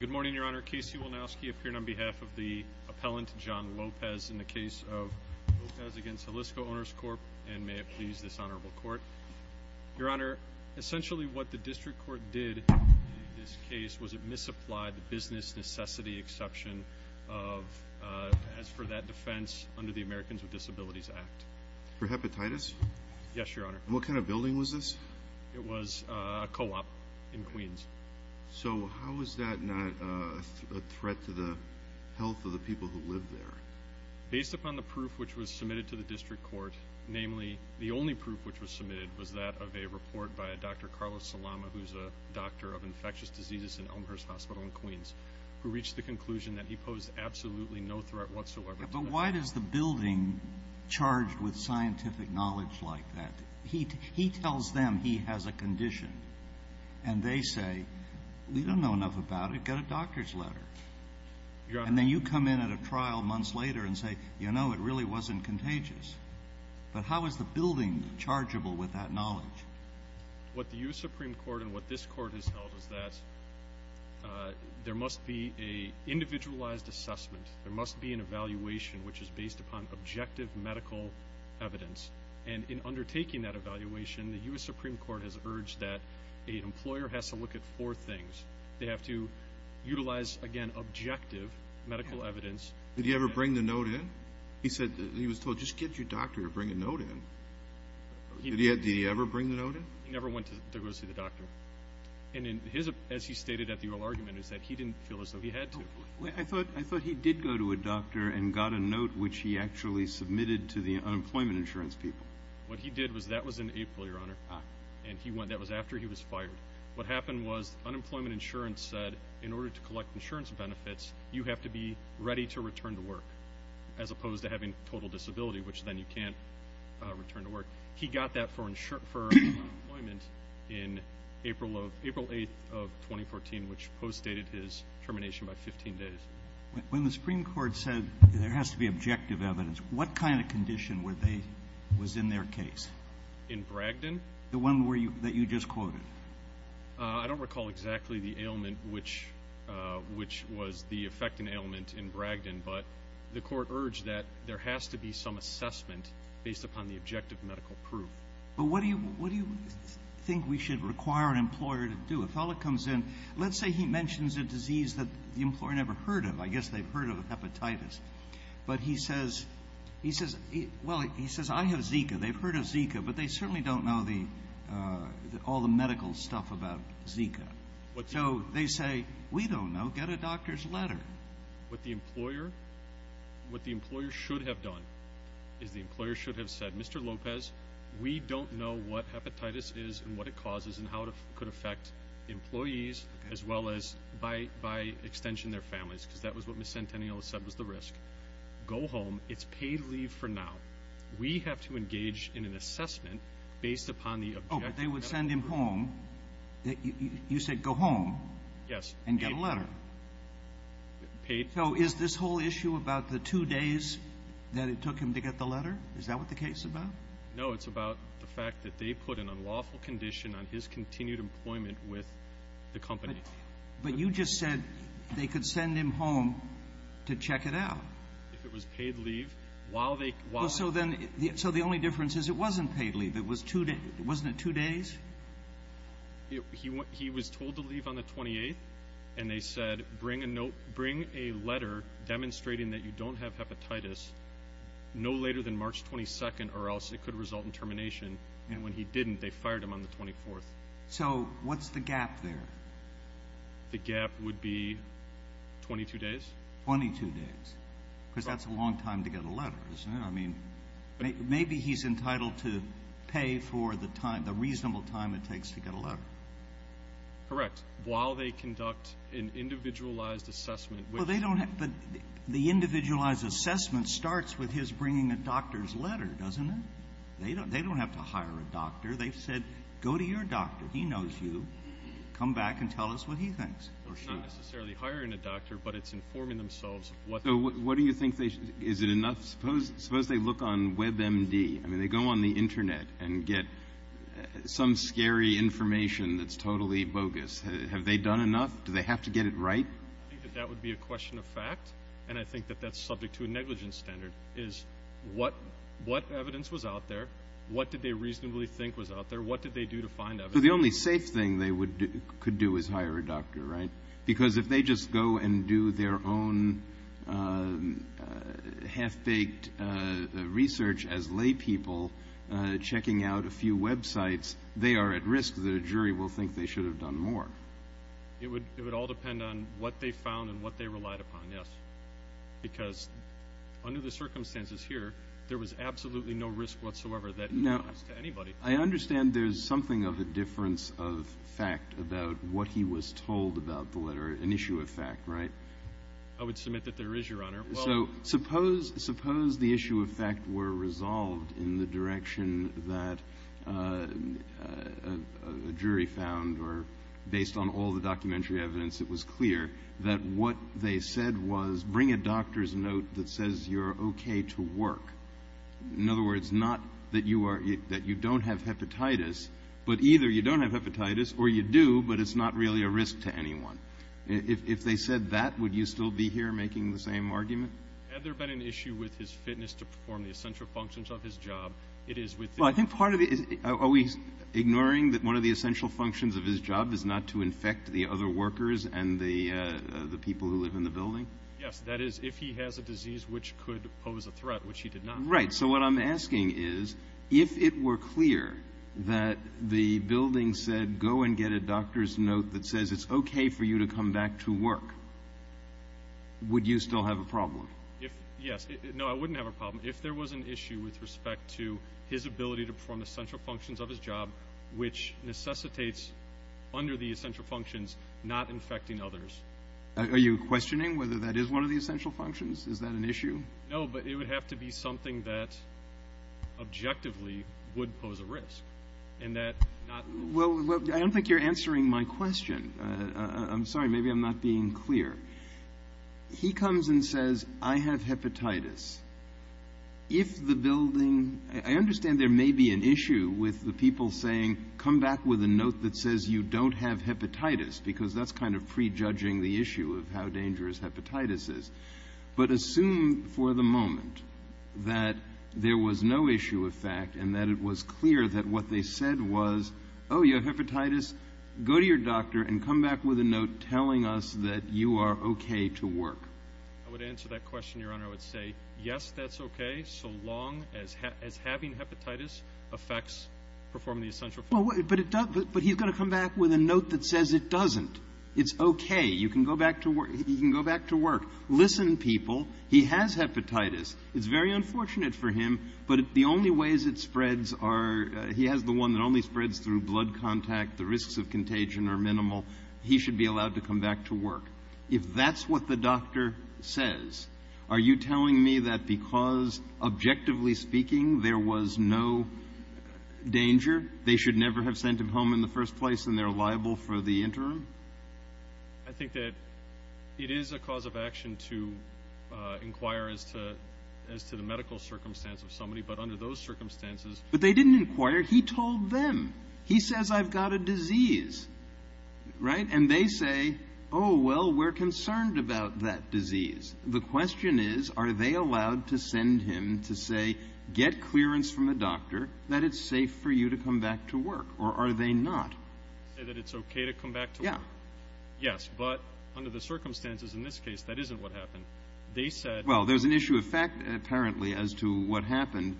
Good morning, Your Honor. Casey Wolnowski appearing on behalf of the appellant, John Lopez, in the case of Lopez v. Hollisco Owners' Corp, and may it please this honorable court. Your Honor, essentially what the district court did in this case was it misapplied the business necessity exception of, as for that defense, under the Americans with Disabilities Act. For hepatitis? Yes, Your Honor. What kind of building was this? It was a co-op in Queens. So how is that not a threat to the health of the people who live there? Based upon the proof which was submitted to the district court, namely, the only proof which was submitted was that of a report by a Dr. Carlos Salama, who's a doctor of infectious diseases in Elmhurst Hospital in Queens, who reached the conclusion that he posed absolutely no threat whatsoever. But why does the building charged with scientific knowledge like that? He tells them he has a condition, and they say, we don't know enough about it. Get a doctor's letter. And then you come in at a trial months later and say, you know, it really wasn't contagious. But how is the building chargeable with that knowledge? What the U.S. Supreme Court and what this court has held is that there must be an individualized assessment. There must be an evaluation which is based upon objective medical evidence. And in undertaking that evaluation, the U.S. Supreme Court has urged that an employer has to look at four things. They have to utilize, again, objective medical evidence. Did he ever bring the note in? He was told, just get your doctor to bring a note in. Did he ever bring the note in? He never went to go see the doctor. And as he stated at the oral argument, he said he didn't feel as though he had to. I thought he did go to a doctor and got a note which he actually submitted to the unemployment insurance people. What he did was, that was in April, Your Honor, and that was after he was fired. What happened was, unemployment insurance said, in order to collect insurance benefits, you have to be ready to return to work, as opposed to having total disability, which then you can't return to work. He got that for unemployment in April 8th of 2014, which postdated his termination by 15 days. When the Supreme Court said there has to be objective evidence, what kind of condition was in their case? In Bragdon? The one that you just quoted. I don't recall exactly the ailment which was the effectant ailment in Bragdon, but the court urged that there has to be some assessment based upon the objective medical proof. But what do you think we should require an employer to do? If a fellow comes in, let's say he mentions a disease that the employer never heard of. I guess they've heard of hepatitis. But he says, well, he says, I have Zika. They've heard of Zika, but they certainly don't know all the medical stuff about Zika. So they say, we don't know. Get a doctor's letter. What the employer should have done is the employer should have said, Mr. Lopez, we don't know what hepatitis is and what it causes and how it could affect employees as well as by extension their families, because that was what Ms. Centennial said was the risk. Go home. It's paid leave for now. We have to engage in an assessment based upon the objective medical proof. Oh, but they would send him home. You said go home. Yes. And get a letter. Paid. So is this whole issue about the two days that it took him to get the letter? Is that what the case is about? No, it's about the fact that they put an unlawful condition on his continued employment with the company. But you just said they could send him home to check it out. If it was paid leave. So the only difference is it wasn't paid leave. Wasn't it two days? He was told to leave on the 28th, and they said, bring a letter demonstrating that you don't have hepatitis no later than March 22nd or else it could result in termination. And when he didn't, they fired him on the 24th. So what's the gap there? The gap would be 22 days. Twenty-two days. Because that's a long time to get a letter, isn't it? I mean, maybe he's entitled to pay for the reasonable time it takes to get a letter. Correct. While they conduct an individualized assessment. But the individualized assessment starts with his bringing a doctor's letter, doesn't it? They don't have to hire a doctor. They've said, go to your doctor. He knows you. Come back and tell us what he thinks. It's not necessarily hiring a doctor, but it's informing themselves. So what do you think they should do? Is it enough? Suppose they look on WebMD. I mean, they go on the Internet and get some scary information that's totally bogus. Have they done enough? Do they have to get it right? I think that that would be a question of fact, and I think that that's subject to a negligence standard is what evidence was out there, what did they reasonably think was out there, what did they do to find out? So the only safe thing they could do is hire a doctor, right? Because if they just go and do their own half-baked research as laypeople, checking out a few websites, they are at risk that a jury will think they should have done more. It would all depend on what they found and what they relied upon, yes. Because under the circumstances here, there was absolutely no risk whatsoever that it was to anybody. I understand there's something of a difference of fact about what he was told about the letter, an issue of fact, right? I would submit that there is, Your Honor. So suppose the issue of fact were resolved in the direction that a jury found, or based on all the documentary evidence it was clear, that what they said was bring a doctor's note that says you're okay to work. In other words, not that you don't have hepatitis, but either you don't have hepatitis or you do, but it's not really a risk to anyone. If they said that, would you still be here making the same argument? Had there been an issue with his fitness to perform the essential functions of his job? It is with the – Well, I think part of the – are we ignoring that one of the essential functions of his job is not to infect the other workers and the people who live in the building? Yes. That is, if he has a disease which could pose a threat, which he did not. Right. So what I'm asking is if it were clear that the building said go and get a doctor's note that says it's okay for you to come back to work, would you still have a problem? Yes. No, I wouldn't have a problem. If there was an issue with respect to his ability to perform the essential functions of his job, which necessitates under the essential functions not infecting others. Are you questioning whether that is one of the essential functions? Is that an issue? No, but it would have to be something that objectively would pose a risk and that not – Well, I don't think you're answering my question. I'm sorry. Maybe I'm not being clear. He comes and says, I have hepatitis. If the building – I understand there may be an issue with the people saying come back with a note that says you don't have hepatitis because that's kind of prejudging the issue of how dangerous hepatitis is. But assume for the moment that there was no issue of fact and that it was clear that what they said was, oh, you have hepatitis, go to your doctor and come back with a note telling us that you are okay to work. I would answer that question, Your Honor. I would say, yes, that's okay so long as having hepatitis affects performing the essential functions. But he's going to come back with a note that says it doesn't. It's okay. You can go back to work. Listen, people. He has hepatitis. It's very unfortunate for him, but the only ways it spreads are – he has the one that only spreads through blood contact. The risks of contagion are minimal. He should be allowed to come back to work. If that's what the doctor says, are you telling me that because, objectively speaking, there was no danger, they should never have sent him home in the first place and they're liable for the interim? I think that it is a cause of action to inquire as to the medical circumstance of somebody, but under those circumstances – But they didn't inquire. He told them. He says I've got a disease, right? And they say, oh, well, we're concerned about that disease. The question is, are they allowed to send him to say get clearance from the doctor that it's safe for you to come back to work, or are they not? Say that it's okay to come back to work? Yeah. Yes, but under the circumstances in this case, that isn't what happened. They said – Well, there's an issue of fact, apparently, as to what happened.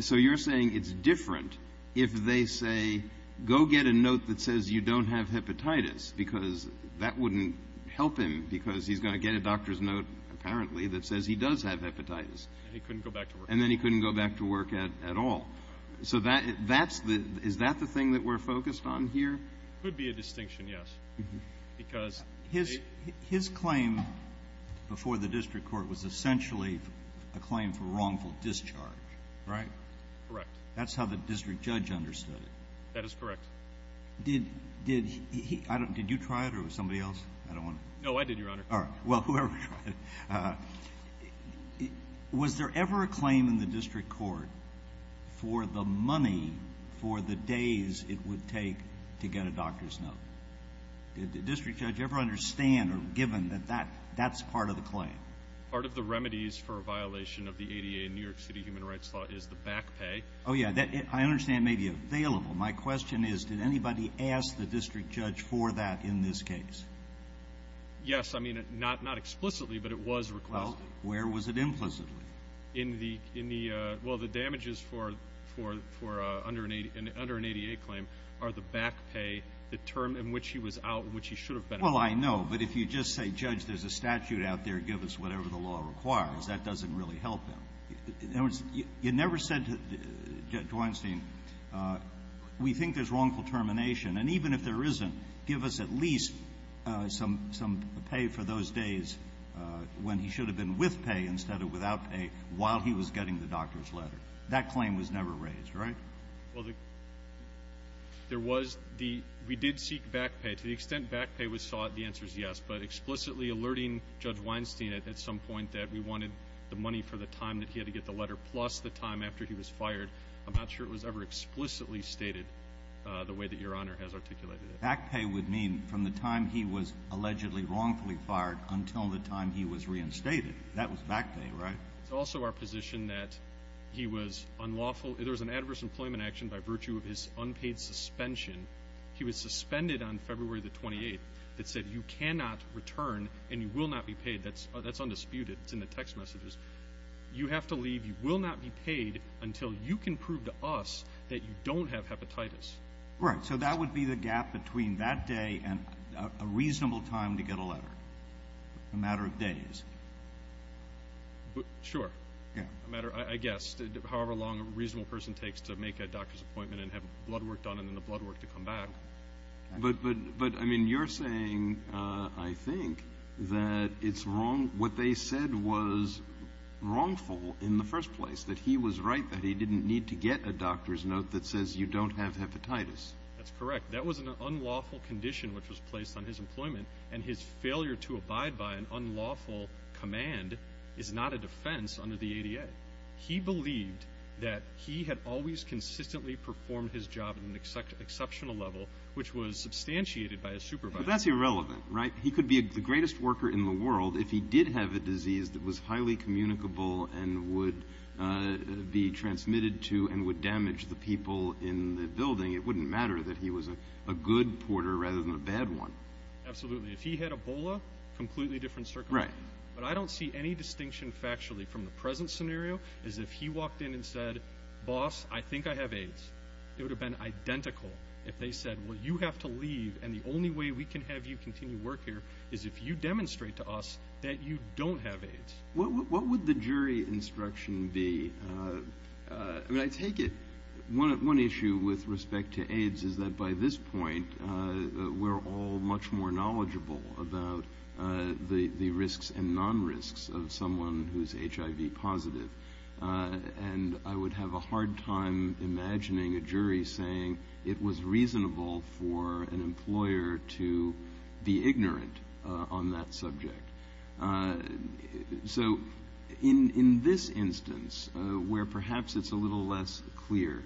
So you're saying it's different if they say go get a note that says you don't have hepatitis because that wouldn't help him because he's going to get a doctor's note, apparently, that says he does have hepatitis. And then he couldn't go back to work. And then he couldn't go back to work at all. So is that the thing that we're focused on here? Could be a distinction, yes. His claim before the district court was essentially a claim for wrongful discharge, right? Correct. That's how the district judge understood it. That is correct. Did you try it or was somebody else? No, I did, Your Honor. All right. Well, whoever tried it. Was there ever a claim in the district court for the money for the days it would take to get a doctor's note? Did the district judge ever understand or given that that's part of the claim? Part of the remedies for a violation of the ADA in New York City human rights law is the back pay. Oh, yeah. I understand it may be available. My question is did anybody ask the district judge for that in this case? Yes. I mean, not explicitly, but it was requested. Well, where was it implicitly? Well, the damages for under an ADA claim are the back pay, the term in which he was out, which he should have been out. Well, I know. But if you just say, Judge, there's a statute out there, give us whatever the law requires, that doesn't really help him. In other words, you never said, Dweinstein, we think there's wrongful termination. And even if there isn't, give us at least some pay for those days when he should have been with pay instead of without pay while he was getting the doctor's letter. That claim was never raised, right? Well, there was the we did seek back pay. To the extent back pay was sought, the answer is yes. But explicitly alerting Judge Weinstein at some point that we wanted the money for the time that he had to get the letter plus the time after he was fired, I'm not sure it was ever explicitly stated the way that Your Honor has articulated it. Back pay would mean from the time he was allegedly wrongfully fired until the time he was reinstated. That was back pay, right? It's also our position that he was unlawful. There was an adverse employment action by virtue of his unpaid suspension. He was suspended on February the 28th. It said you cannot return and you will not be paid. That's undisputed. It's in the text messages. You have to leave. You will not be paid until you can prove to us that you don't have hepatitis. Right. So that would be the gap between that day and a reasonable time to get a letter, a matter of days. Sure. I guess. However long a reasonable person takes to make a doctor's appointment and have blood work done and then the blood work to come back. But, I mean, you're saying, I think, that what they said was wrongful in the first place, that he was right that he didn't need to get a doctor's note that says you don't have hepatitis. That's correct. That was an unlawful condition which was placed on his employment, and his failure to abide by an unlawful command is not a defense under the ADA. He believed that he had always consistently performed his job at an exceptional level, which was substantiated by his supervisor. But that's irrelevant, right? He could be the greatest worker in the world if he did have a disease that was highly communicable and would be transmitted to and would damage the people in the building. It wouldn't matter that he was a good porter rather than a bad one. Absolutely. If he had Ebola, completely different circumstance. Right. But I don't see any distinction factually from the present scenario as if he walked in and said, boss, I think I have AIDS. It would have been identical if they said, well, you have to leave, and the only way we can have you continue work here is if you demonstrate to us that you don't have AIDS. What would the jury instruction be? I mean, I take it one issue with respect to AIDS is that by this point, we're all much more knowledgeable about the risks and non-risks of someone who's HIV positive, and I would have a hard time imagining a jury saying it was reasonable for an employer to be ignorant on that subject. So in this instance, where perhaps it's a little less clear,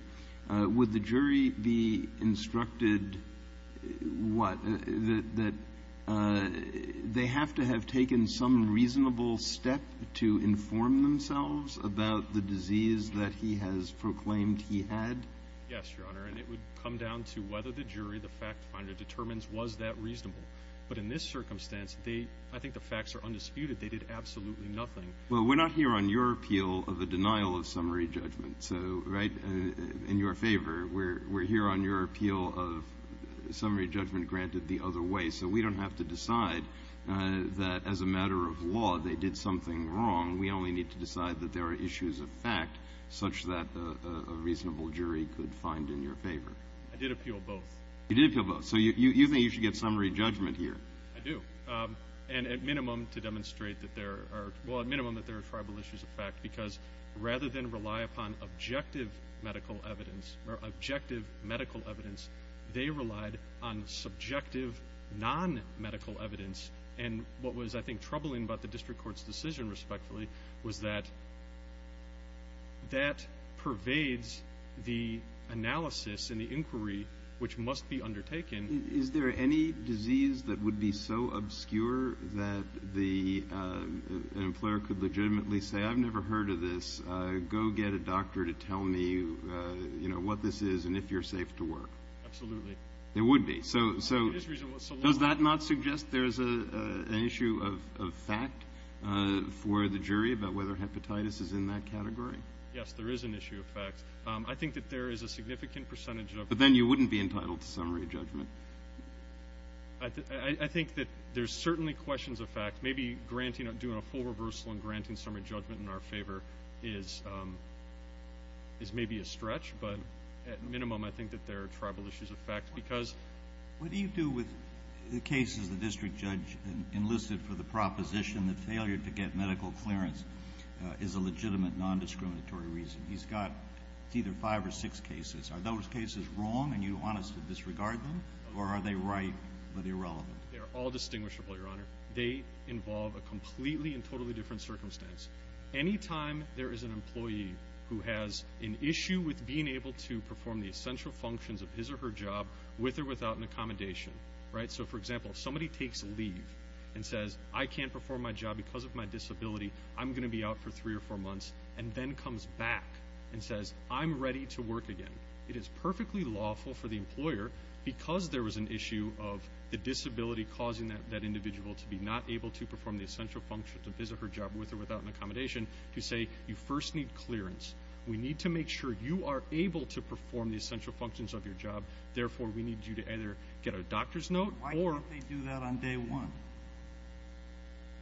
would the jury be instructed what? That they have to have taken some reasonable step to inform themselves about the disease that he has proclaimed he had? Yes, Your Honor, and it would come down to whether the jury, the fact finder, determines was that reasonable. But in this circumstance, I think the facts are undisputed. They did absolutely nothing. Well, we're not here on your appeal of the denial of summary judgment. So in your favor, we're here on your appeal of summary judgment granted the other way. So we don't have to decide that as a matter of law they did something wrong. We only need to decide that there are issues of fact such that a reasonable jury could find in your favor. I did appeal both. You did appeal both. So you think you should get summary judgment here? I do, and at minimum to demonstrate that there are tribal issues of fact, because rather than rely upon objective medical evidence, they relied on subjective non-medical evidence. And what was, I think, troubling about the district court's decision, respectfully, was that that pervades the analysis and the inquiry which must be undertaken. Is there any disease that would be so obscure that an employer could legitimately say, I've never heard of this, go get a doctor to tell me, you know, what this is and if you're safe to work? Absolutely. There would be. So does that not suggest there is an issue of fact for the jury about whether hepatitis is in that category? Yes, there is an issue of fact. I think that there is a significant percentage of it. But then you wouldn't be entitled to summary judgment. I think that there's certainly questions of fact. Maybe doing a full reversal and granting summary judgment in our favor is maybe a stretch, but at minimum I think that there are tribal issues of fact. What do you do with the cases the district judge enlisted for the proposition that failure to get medical clearance is a legitimate non-discriminatory reason? He's got either five or six cases. Are those cases wrong and you honestly disregard them, or are they right but irrelevant? They are all distinguishable, Your Honor. They involve a completely and totally different circumstance. Anytime there is an employee who has an issue with being able to perform the essential functions of his or her job with or without an accommodation, right? So, for example, if somebody takes leave and says, I can't perform my job because of my disability, I'm going to be out for three or four months, and then comes back and says, I'm ready to work again, it is perfectly lawful for the employer because there was an issue of the disability causing that individual to be not able to perform the essential function to visit her job with or without an accommodation, to say, you first need clearance. We need to make sure you are able to perform the essential functions of your job. Therefore, we need you to either get a doctor's note or... Why can't they do that on day one?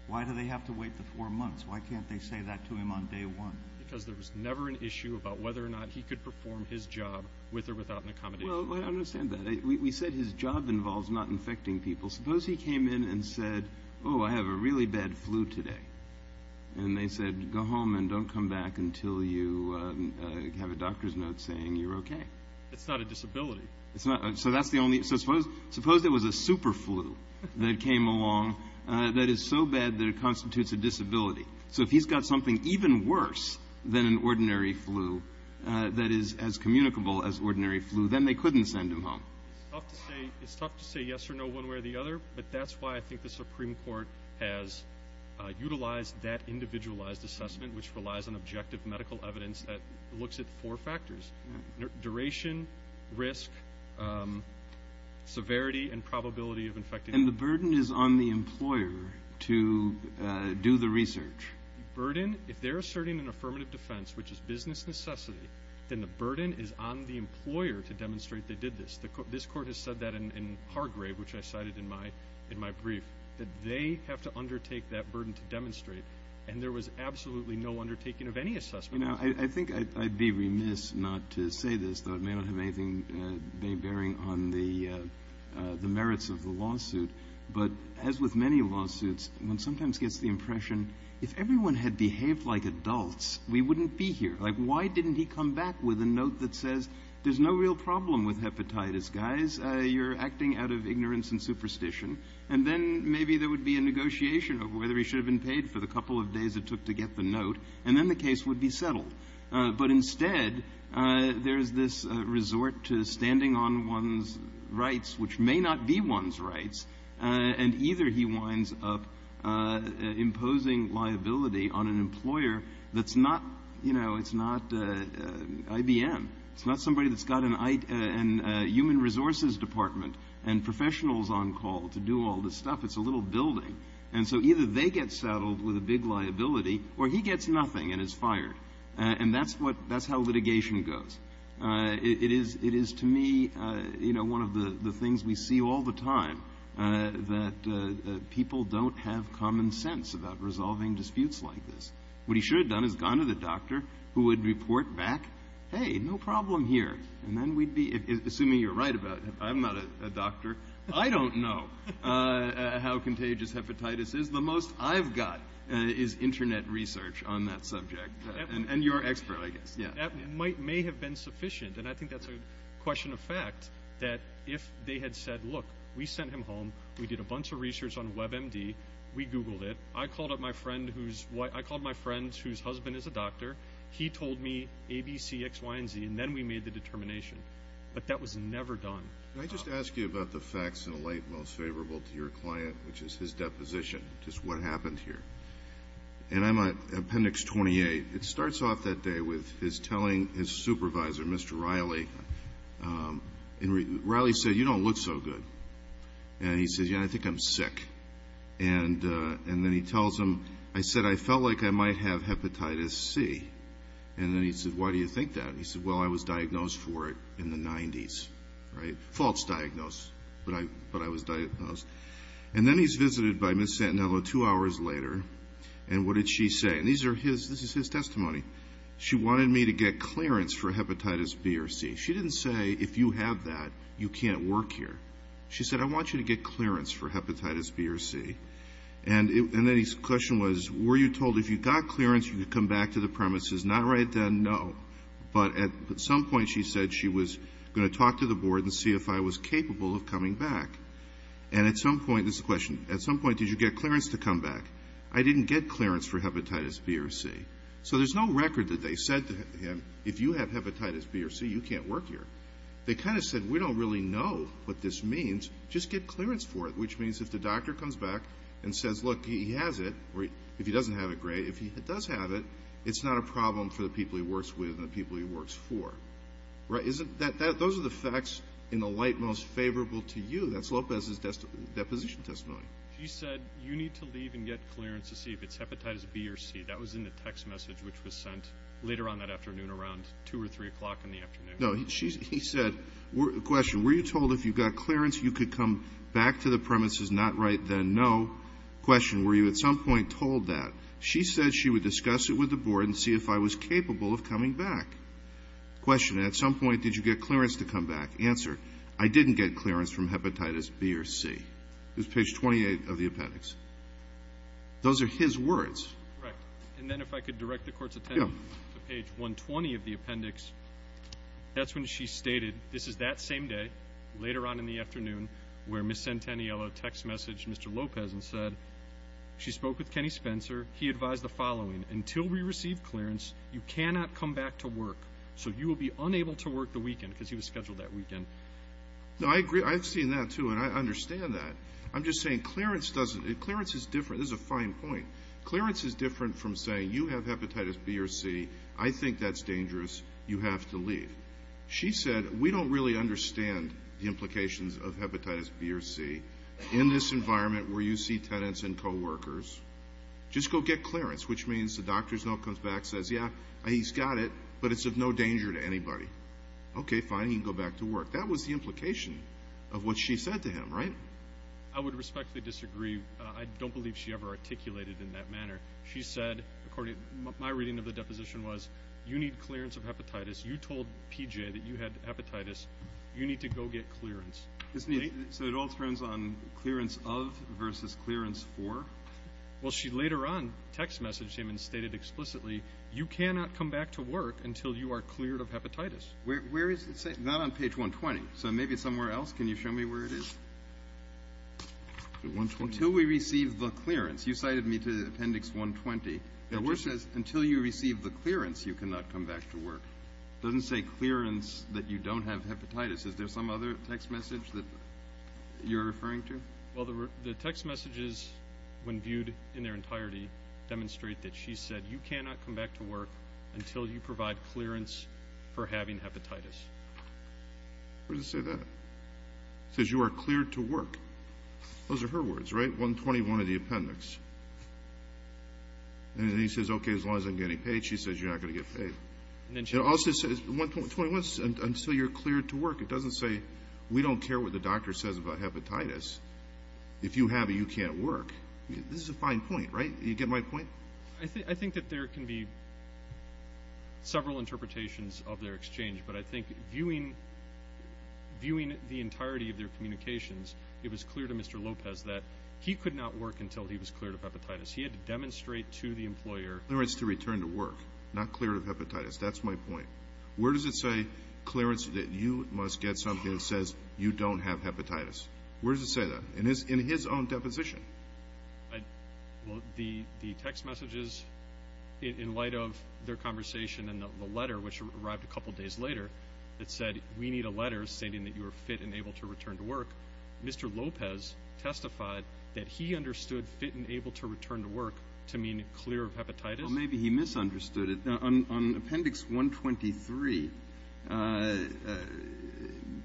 Why do they have to wait the four months? Why can't they say that to him on day one? Because there was never an issue about whether or not he could perform his job with or without an accommodation. Well, I understand that. We said his job involves not infecting people. Suppose he came in and said, oh, I have a really bad flu today. And they said, go home and don't come back until you have a doctor's note saying you're okay. It's not a disability. So that's the only... So suppose there was a super flu that came along that is so bad that it constitutes a disability. So if he's got something even worse than an ordinary flu that is as communicable as ordinary flu, then they couldn't send him home. It's tough to say yes or no one way or the other, but that's why I think the Supreme Court has utilized that individualized assessment, which relies on objective medical evidence that looks at four factors, duration, risk, severity, and probability of infection. And the burden is on the employer to do the research. The burden, if they're asserting an affirmative defense, which is business necessity, then the burden is on the employer to demonstrate they did this. This court has said that in Hargrave, which I cited in my brief, that they have to undertake that burden to demonstrate. And there was absolutely no undertaking of any assessment. I think I'd be remiss not to say this, though it may not have anything bearing on the merits of the lawsuit, but as with many lawsuits, one sometimes gets the impression, if everyone had behaved like adults, we wouldn't be here. Like, why didn't he come back with a note that says, there's no real problem with hepatitis, guys. You're acting out of ignorance and superstition. And then maybe there would be a negotiation of whether he should have been paid for the couple of days it took to get the note, and then the case would be settled. But instead, there's this resort to standing on one's rights, which may not be one's rights, and either he winds up imposing liability on an employer that's not, you know, it's not IBM. It's not somebody that's got a human resources department and professionals on call to do all this stuff. It's a little building. And so either they get saddled with a big liability, or he gets nothing and is fired. And that's how litigation goes. It is to me, you know, one of the things we see all the time, that people don't have common sense about resolving disputes like this. What he should have done is gone to the doctor, who would report back, hey, no problem here. And then we'd be, assuming you're right about it, I'm not a doctor. I don't know how contagious hepatitis is. The most I've got is Internet research on that subject. And you're an expert, I guess. That may have been sufficient. And I think that's a question of fact, that if they had said, look, we sent him home. We did a bunch of research on WebMD. We Googled it. I called my friend whose husband is a doctor. He told me A, B, C, X, Y, and Z, and then we made the determination. But that was never done. Can I just ask you about the facts in a light most favorable to your client, which is his deposition, just what happened here? And I'm on Appendix 28. It starts off that day with his telling his supervisor, Mr. Riley. Riley said, you don't look so good. And he says, yeah, I think I'm sick. And then he tells him, I said I felt like I might have hepatitis C. And then he said, why do you think that? And he said, well, I was diagnosed for it in the 90s, right? False diagnose, but I was diagnosed. And then he's visited by Ms. Santinello two hours later, and what did she say? And this is his testimony. She wanted me to get clearance for hepatitis B or C. She didn't say, if you have that, you can't work here. She said, I want you to get clearance for hepatitis B or C. And then his question was, were you told if you got clearance you could come back to the premises? Not right then, no. But at some point she said she was going to talk to the board and see if I was capable of coming back. And at some point, this is the question, at some point did you get clearance to come back? I didn't get clearance for hepatitis B or C. So there's no record that they said to him, if you have hepatitis B or C, you can't work here. They kind of said, we don't really know what this means, just get clearance for it, which means if the doctor comes back and says, look, he has it, or if he doesn't have it, great. If he does have it, it's not a problem for the people he works with and the people he works for. Those are the facts in the light most favorable to you. That's Lopez's deposition testimony. He said, you need to leave and get clearance to see if it's hepatitis B or C. That was in the text message which was sent later on that afternoon around 2 or 3 o'clock in the afternoon. No, he said, question, were you told if you got clearance you could come back to the premises? Not right then, no. Question, were you at some point told that? She said she would discuss it with the board and see if I was capable of coming back. Question, at some point did you get clearance to come back? Answer, I didn't get clearance from hepatitis B or C. It was page 28 of the appendix. Those are his words. Correct. And then if I could direct the Court's attention to page 120 of the appendix. That's when she stated, this is that same day, later on in the afternoon, where Ms. Centennialo text messaged Mr. Lopez and said she spoke with Kenny Spencer. He advised the following, until we receive clearance, you cannot come back to work. So you will be unable to work the weekend because he was scheduled that weekend. No, I agree. I've seen that, too, and I understand that. I'm just saying clearance is different. This is a fine point. Clearance is different from saying you have hepatitis B or C. I think that's dangerous. You have to leave. She said, we don't really understand the implications of hepatitis B or C in this environment where you see tenants and coworkers. Just go get clearance, which means the doctor comes back and says, yeah, he's got it, but it's of no danger to anybody. Okay, fine. He can go back to work. That was the implication of what she said to him, right? I would respectfully disagree. I don't believe she ever articulated in that manner. She said, according to my reading of the deposition, was you need clearance of hepatitis. You told PJ that you had hepatitis. You need to go get clearance. So it all turns on clearance of versus clearance for? Well, she later on text messaged him and stated explicitly, you cannot come back to work until you are cleared of hepatitis. Where is it? It's not on page 120. So maybe it's somewhere else. Can you show me where it is? Until we receive the clearance. You cited me to appendix 120. It just says, until you receive the clearance, you cannot come back to work. It doesn't say clearance that you don't have hepatitis. Is there some other text message that you're referring to? Well, the text messages, when viewed in their entirety, demonstrate that she said you cannot come back to work until you provide clearance for having hepatitis. Where does it say that? It says, you are cleared to work. Those are her words, right? 121 of the appendix. And then he says, okay, as long as I'm getting paid. She says, you're not going to get paid. It also says, until you're cleared to work. It doesn't say, we don't care what the doctor says about hepatitis. If you have it, you can't work. This is a fine point, right? You get my point? I think that there can be several interpretations of their exchange, but I think viewing the entirety of their communications, it was clear to Mr. Lopez that he could not work until he was cleared of hepatitis. He had to demonstrate to the employer. Clearance to return to work, not cleared of hepatitis. That's my point. Where does it say clearance that you must get something that says you don't have hepatitis? Where does it say that? In his own deposition. Well, the text messages in light of their conversation and the letter which arrived a couple days later that said, we need a letter stating that you are fit and able to return to work. Mr. Lopez testified that he understood fit and able to return to work to mean clear of hepatitis. Well, maybe he misunderstood it. On appendix 123,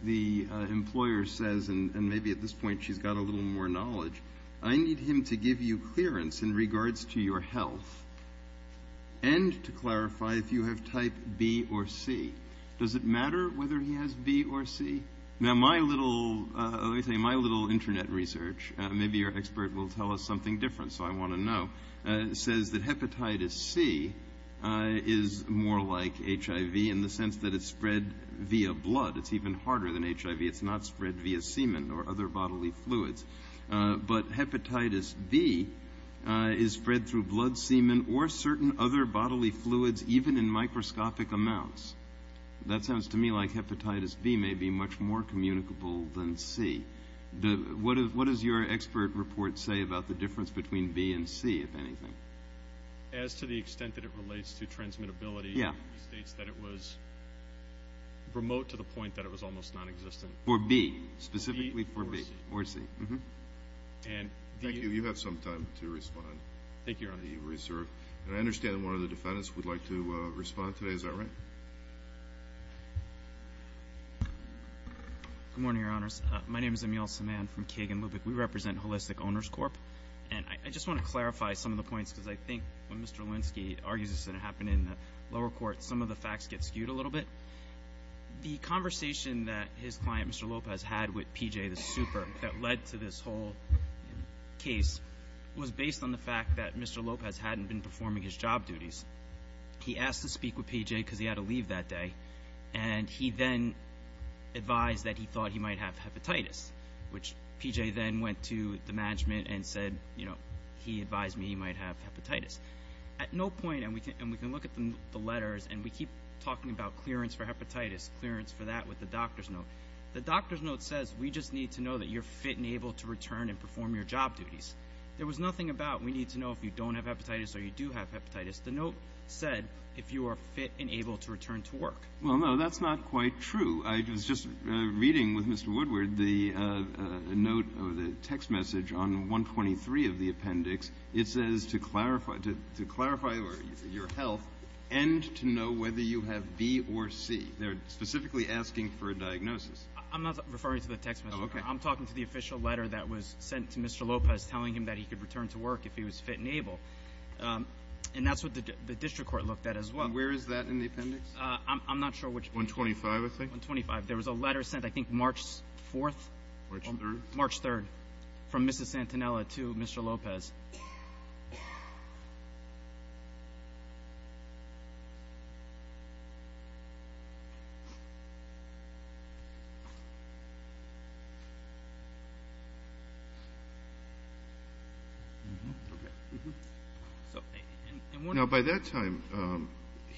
the employer says, and maybe at this point she's got a little more knowledge, I need him to give you clearance in regards to your health and to clarify if you have type B or C. Does it matter whether he has B or C? Now, my little internet research, maybe your expert will tell us something different so I want to know, says that hepatitis C is more like HIV in the sense that it's spread via blood. It's even harder than HIV. It's not spread via semen or other bodily fluids. But hepatitis B is spread through blood, semen, or certain other bodily fluids even in microscopic amounts. That sounds to me like hepatitis B may be much more communicable than C. What does your expert report say about the difference between B and C, if anything? As to the extent that it relates to transmissibility, he states that it was remote to the point that it was almost nonexistent. For B, specifically for B or C. Thank you. You have some time to respond. Thank you, Your Honor. And I understand one of the defendants would like to respond today. Is that right? Good morning, Your Honors. My name is Emil Saman from Kagan Lubbock. We represent Holistic Owners Corp., and I just want to clarify some of the points because I think when Mr. Linsky argues that it happened in the lower court, some of the facts get skewed a little bit. The conversation that his client, Mr. Lopez, had with PJ, the super, that led to this whole case was based on the fact that Mr. Lopez hadn't been performing his job duties. He asked to speak with PJ because he had to leave that day, and he then advised that he thought he might have hepatitis, which PJ then went to the management and said, you know, he advised me he might have hepatitis. At no point, and we can look at the letters, and we keep talking about clearance for hepatitis, clearance for that with the doctor's note, the doctor's note says we just need to know that you're fit and able to return and perform your job duties. There was nothing about we need to know if you don't have hepatitis or you do have hepatitis. The note said if you are fit and able to return to work. Well, no, that's not quite true. I was just reading with Mr. Woodward the note or the text message on 123 of the appendix. It says to clarify your health and to know whether you have B or C. They're specifically asking for a diagnosis. I'm not referring to the text message. I'm talking to the official letter that was sent to Mr. Lopez telling him that he could return to work if he was fit and able. And that's what the district court looked at as well. And where is that in the appendix? I'm not sure which appendix. 125, I think. 125. There was a letter sent, I think, March 4th. March 3rd. From Mrs. Santanella to Mr. Lopez. Now, by that time,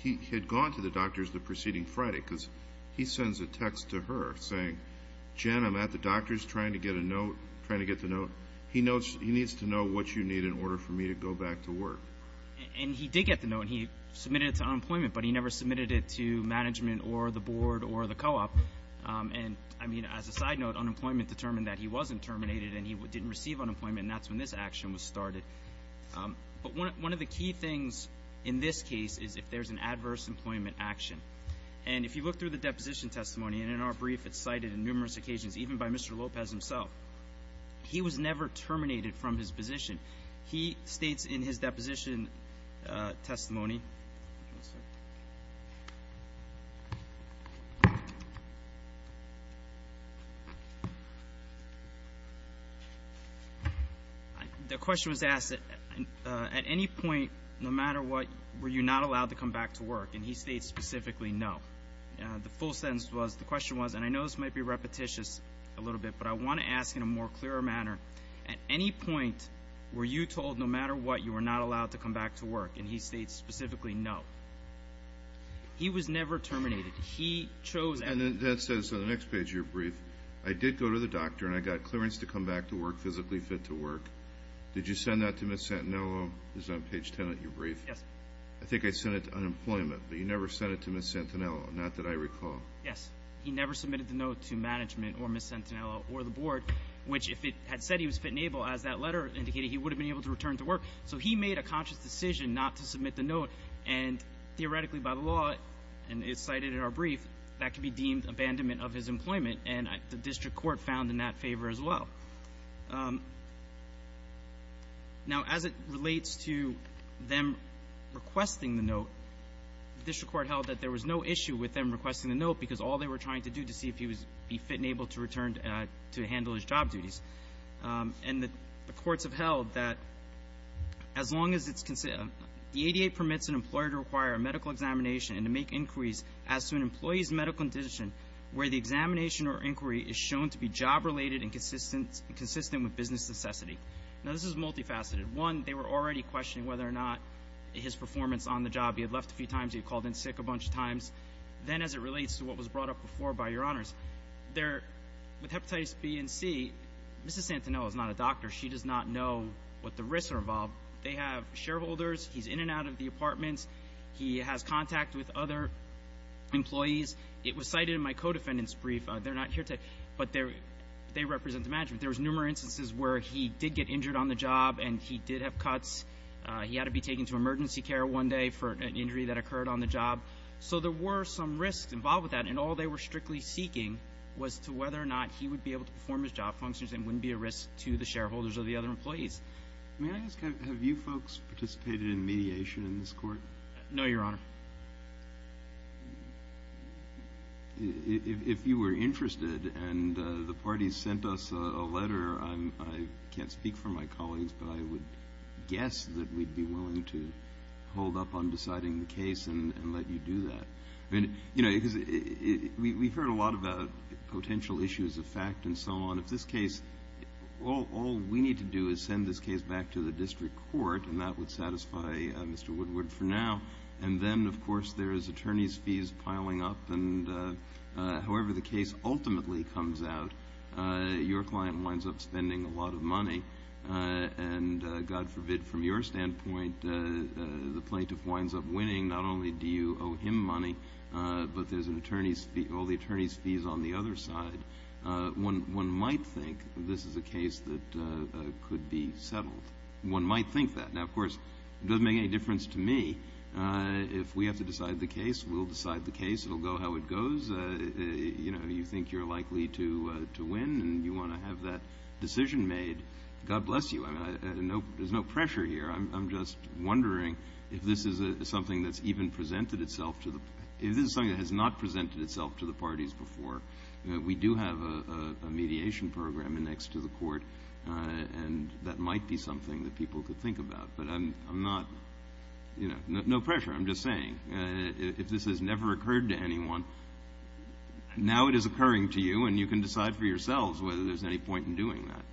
he had gone to the doctors the preceding Friday because he sends a text to her saying, Jen, I'm at the doctors trying to get a note, trying to get the note. He needs to know what you need in order for me to go back to work. And he did get the note, and he submitted it to unemployment, but he never submitted it to management or the board or the co-op. And, I mean, as a side note, unemployment determined that he wasn't terminated and he didn't receive unemployment, and that's when this action was started. But one of the key things in this case is if there's an adverse employment action. And if you look through the deposition testimony, and in our brief it's cited in numerous occasions, even by Mr. Lopez himself, he was never terminated from his position. He states in his deposition testimony, the question was asked, at any point, no matter what, were you not allowed to come back to work? And he states specifically, no. The full sentence was, the question was, and I know this might be repetitious a little bit, but I want to ask in a more clear manner, at any point, were you told no matter what, you were not allowed to come back to work? And he states specifically, no. He was never terminated. He chose. And that says on the next page of your brief, I did go to the doctor and I got clearance to come back to work, physically fit to work. Did you send that to Ms. Santinello? It's on page 10 of your brief. Yes. I think I sent it to unemployment, but you never sent it to Ms. Santinello, not that I recall. Yes. He never submitted the note to management or Ms. Santinello or the board, which if it had said he was fit and able, as that letter indicated, he would have been able to return to work. So he made a conscious decision not to submit the note, and theoretically by the law, and it's cited in our brief, that could be deemed abandonment of his employment, and the district court found in that favor as well. Now, as it relates to them requesting the note, the district court held that there was no issue with them requesting the note, because all they were trying to do to see if he would be fit and able to return to handle his job duties. And the courts have held that as long as it's the ADA permits an employer to require a medical examination and to make inquiries as to an employee's medical condition where the examination or inquiry is shown to be job-related and consistent with business necessity. Now, this is multifaceted. One, they were already questioning whether or not his performance on the job. He had left a few times. He had called in sick a bunch of times. Then as it relates to what was brought up before by Your Honors, with hepatitis B and C, Ms. Santinello is not a doctor. She does not know what the risks are involved. They have shareholders. He's in and out of the apartments. He has contact with other employees. It was cited in my co-defendant's brief. They're not here today, but they represent the management. There were numerous instances where he did get injured on the job and he did have cuts. He had to be taken to emergency care one day for an injury that occurred on the job. So there were some risks involved with that, and all they were strictly seeking was to whether or not he would be able to perform his job functions and wouldn't be a risk to the shareholders or the other employees. May I ask, have you folks participated in mediation in this court? No, Your Honor. If you were interested and the parties sent us a letter, I can't speak for my colleagues, but I would guess that we'd be willing to hold up on deciding the case and let you do that. We've heard a lot about potential issues of fact and so on. If this case, all we need to do is send this case back to the district court, and that would satisfy Mr. Woodward for now. And then, of course, there is attorney's fees piling up, and however the case ultimately comes out, your client winds up spending a lot of money. And God forbid, from your standpoint, the plaintiff winds up winning. Not only do you owe him money, but there's all the attorney's fees on the other side. One might think this is a case that could be settled. One might think that. Now, of course, it doesn't make any difference to me. If we have to decide the case, we'll decide the case. It will go how it goes. You know, you think you're likely to win, and you want to have that decision made. God bless you. There's no pressure here. I'm just wondering if this is something that's even presented itself to the – if this is something that has not presented itself to the parties before. We do have a mediation program next to the court, and that might be something that people could think about. But I'm not – no pressure. I'm just saying, if this has never occurred to anyone, now it is occurring to you, and you can decide for yourselves whether there's any point in doing that.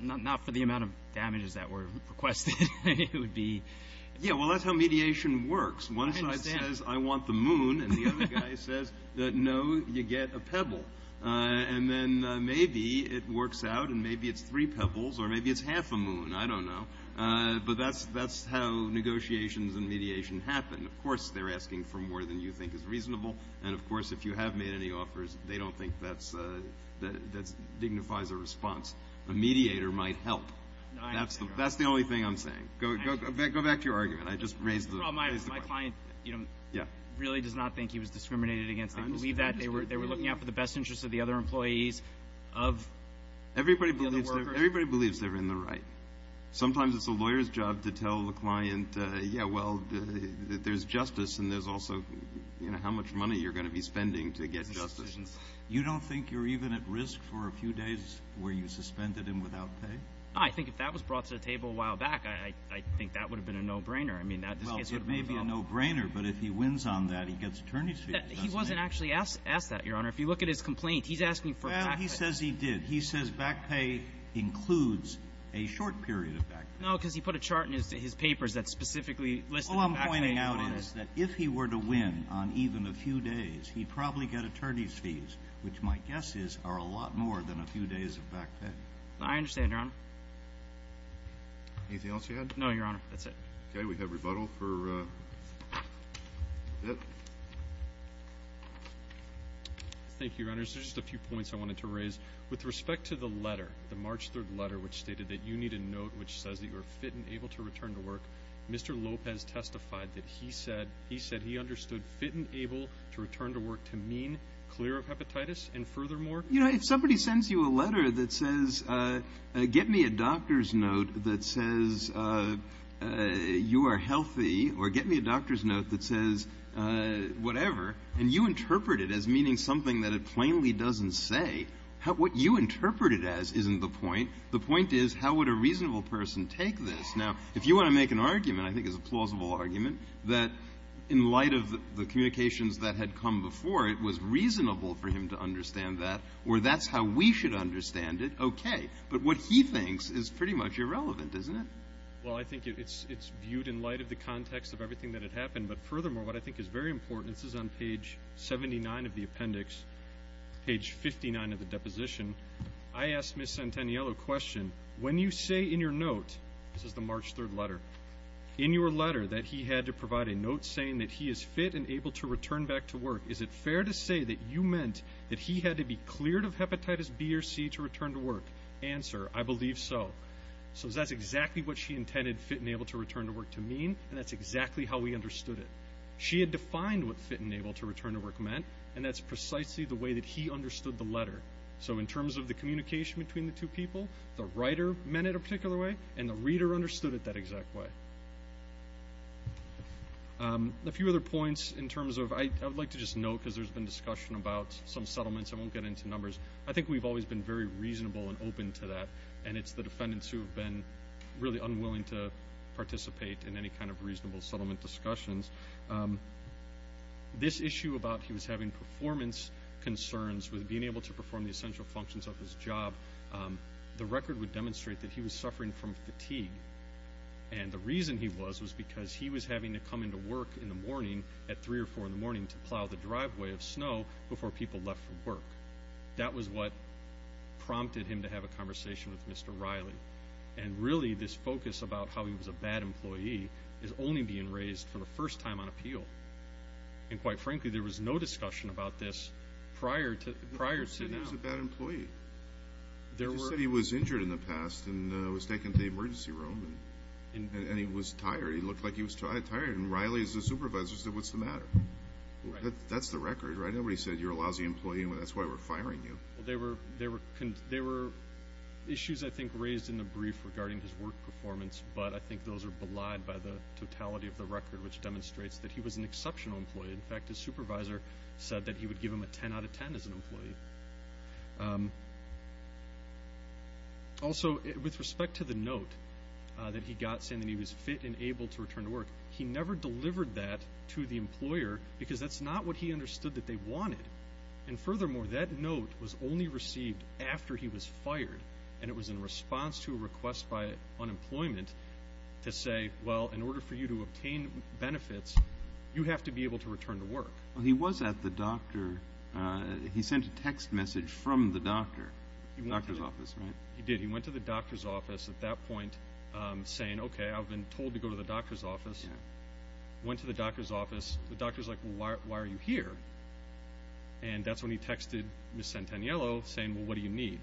Not for the amount of damages that were requested. It would be – Yeah, well, that's how mediation works. I understand. One side says, I want the moon, and the other guy says, no, you get a pebble. And then maybe it works out, and maybe it's three pebbles, or maybe it's half a moon. I don't know. But that's how negotiations and mediation happen. Of course, they're asking for more than you think is reasonable. And, of course, if you have made any offers, they don't think that dignifies a response. A mediator might help. That's the only thing I'm saying. Go back to your argument. I just raised the point. Well, my client really does not think he was discriminated against. They believe that. They were looking out for the best interests of the other employees, of the other workers. Everybody believes they're in the right. Sometimes it's a lawyer's job to tell the client, yeah, well, there's justice, and there's also, you know, how much money you're going to be spending to get justice. You don't think you're even at risk for a few days where you suspended him without pay? I think if that was brought to the table a while back, I think that would have been a no-brainer. I mean, that case would have been developed. Well, it may be a no-brainer, but if he wins on that, he gets attorney's fees. He wasn't actually asked that, Your Honor. If you look at his complaint, he's asking for back pay. Well, he says he did. He says back pay includes a short period of back pay. No, because he put a chart in his papers that specifically listed back pay. All I'm pointing out is that if he were to win on even a few days, he'd probably get attorney's fees, which my guess is are a lot more than a few days of back pay. I understand, Your Honor. Anything else you had? No, Your Honor. That's it. Okay, we have rebuttal for Bitt. Thank you, Your Honor. There's just a few points I wanted to raise. With respect to the letter, the March 3rd letter, which stated that you need a note which says that you are fit and able to return to work, Mr. Lopez testified that he said he understood fit and able to return to work to mean clear of hepatitis and furthermore. You know, if somebody sends you a letter that says get me a doctor's note that says you are healthy or get me a doctor's note that says whatever, and you interpret it as meaning something that it plainly doesn't say, what you interpret it as isn't the point. The point is how would a reasonable person take this? Now, if you want to make an argument, I think it's a plausible argument, that in light of the communications that had come before, it was reasonable for him to understand that, or that's how we should understand it, okay. But what he thinks is pretty much irrelevant, isn't it? Well, I think it's viewed in light of the context of everything that had happened. But furthermore, what I think is very important, this is on page 79 of the appendix, page 59 of the deposition, I asked Ms. Centaniello a question, when you say in your note, this is the March 3rd letter, in your letter that he had to provide a note saying that he is fit and able to return back to work, is it fair to say that you meant that he had to be cleared of hepatitis B or C to return to work? Answer, I believe so. So that's exactly what she intended fit and able to return to work to mean, and that's exactly how we understood it. She had defined what fit and able to return to work meant, and that's precisely the way that he understood the letter. So in terms of the communication between the two people, the writer meant it a particular way, and the reader understood it that exact way. A few other points in terms of, I would like to just note, because there's been discussion about some settlements, I won't get into numbers, I think we've always been very reasonable and open to that, and it's the defendants who have been really unwilling to participate in any kind of reasonable settlement discussions. This issue about he was having performance concerns with being able to perform the essential functions of his job, the record would demonstrate that he was suffering from fatigue, and the reason he was was because he was having to come into work in the morning at 3 or 4 in the morning to plow the driveway of snow before people left for work. That was what prompted him to have a conversation with Mr. Riley, and really this focus about how he was a bad employee is only being raised for the first time on appeal, and quite frankly there was no discussion about this prior to now. But he was a bad employee. You said he was injured in the past and was taken to the emergency room, and he was tired. He looked like he was tired, and Riley as the supervisor said, what's the matter? That's the record, right? Nobody said you're a lousy employee and that's why we're firing you. Well, there were issues I think raised in the brief regarding his work performance, but I think those are belied by the totality of the record, which demonstrates that he was an exceptional employee. In fact, his supervisor said that he would give him a 10 out of 10 as an employee. Also, with respect to the note that he got saying that he was fit and able to return to work, he never delivered that to the employer because that's not what he understood that they wanted. And furthermore, that note was only received after he was fired, and it was in response to a request by unemployment to say, well, in order for you to obtain benefits, you have to be able to return to work. Well, he was at the doctor. He sent a text message from the doctor, doctor's office, right? He did. He went to the doctor's office at that point saying, okay, I've been told to go to the doctor's office. Went to the doctor's office. The doctor's like, well, why are you here? And that's when he texted Ms. Santaniello saying, well, what do you need?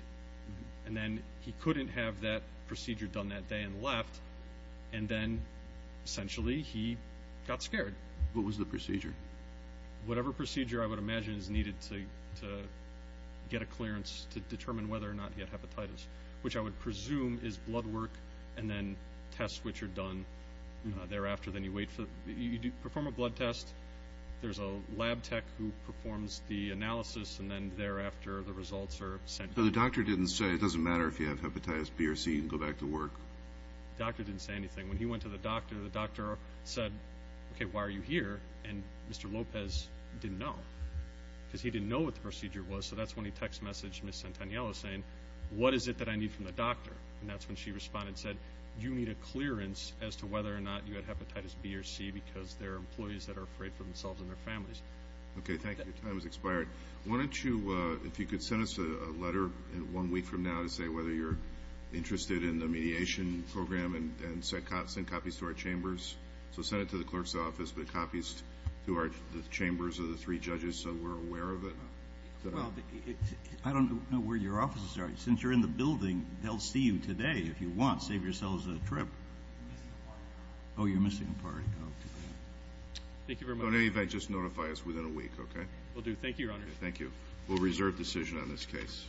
And then he couldn't have that procedure done that day and left, and then essentially he got scared. What was the procedure? Whatever procedure I would imagine is needed to get a clearance to determine whether or not he had hepatitis, which I would presume is blood work and then tests which are done thereafter. Then you perform a blood test. There's a lab tech who performs the analysis, and then thereafter the results are sent. So the doctor didn't say, it doesn't matter if you have hepatitis B or C, you can go back to work? The doctor didn't say anything. When he went to the doctor, the doctor said, okay, why are you here? And Mr. Lopez didn't know because he didn't know what the procedure was, so that's when he text messaged Ms. Santaniello saying, what is it that I need from the doctor? And that's when she responded and said, you need a clearance as to whether or not you had hepatitis B or C because there are employees that are afraid for themselves and their families. Okay, thank you. Your time has expired. Why don't you, if you could send us a letter one week from now to say whether you're interested in the mediation program and send copies to our chambers. So send it to the clerk's office, but copies to the chambers of the three judges so we're aware of it. Well, I don't know where your offices are. Since you're in the building, they'll see you today if you want. Save yourselves a trip. I'm missing a party. Oh, you're missing a party. I'll do that. Thank you very much. Don't worry about it. Just notify us within a week, okay? Will do. Thank you, Your Honor. Thank you. We'll reserve decision on this case.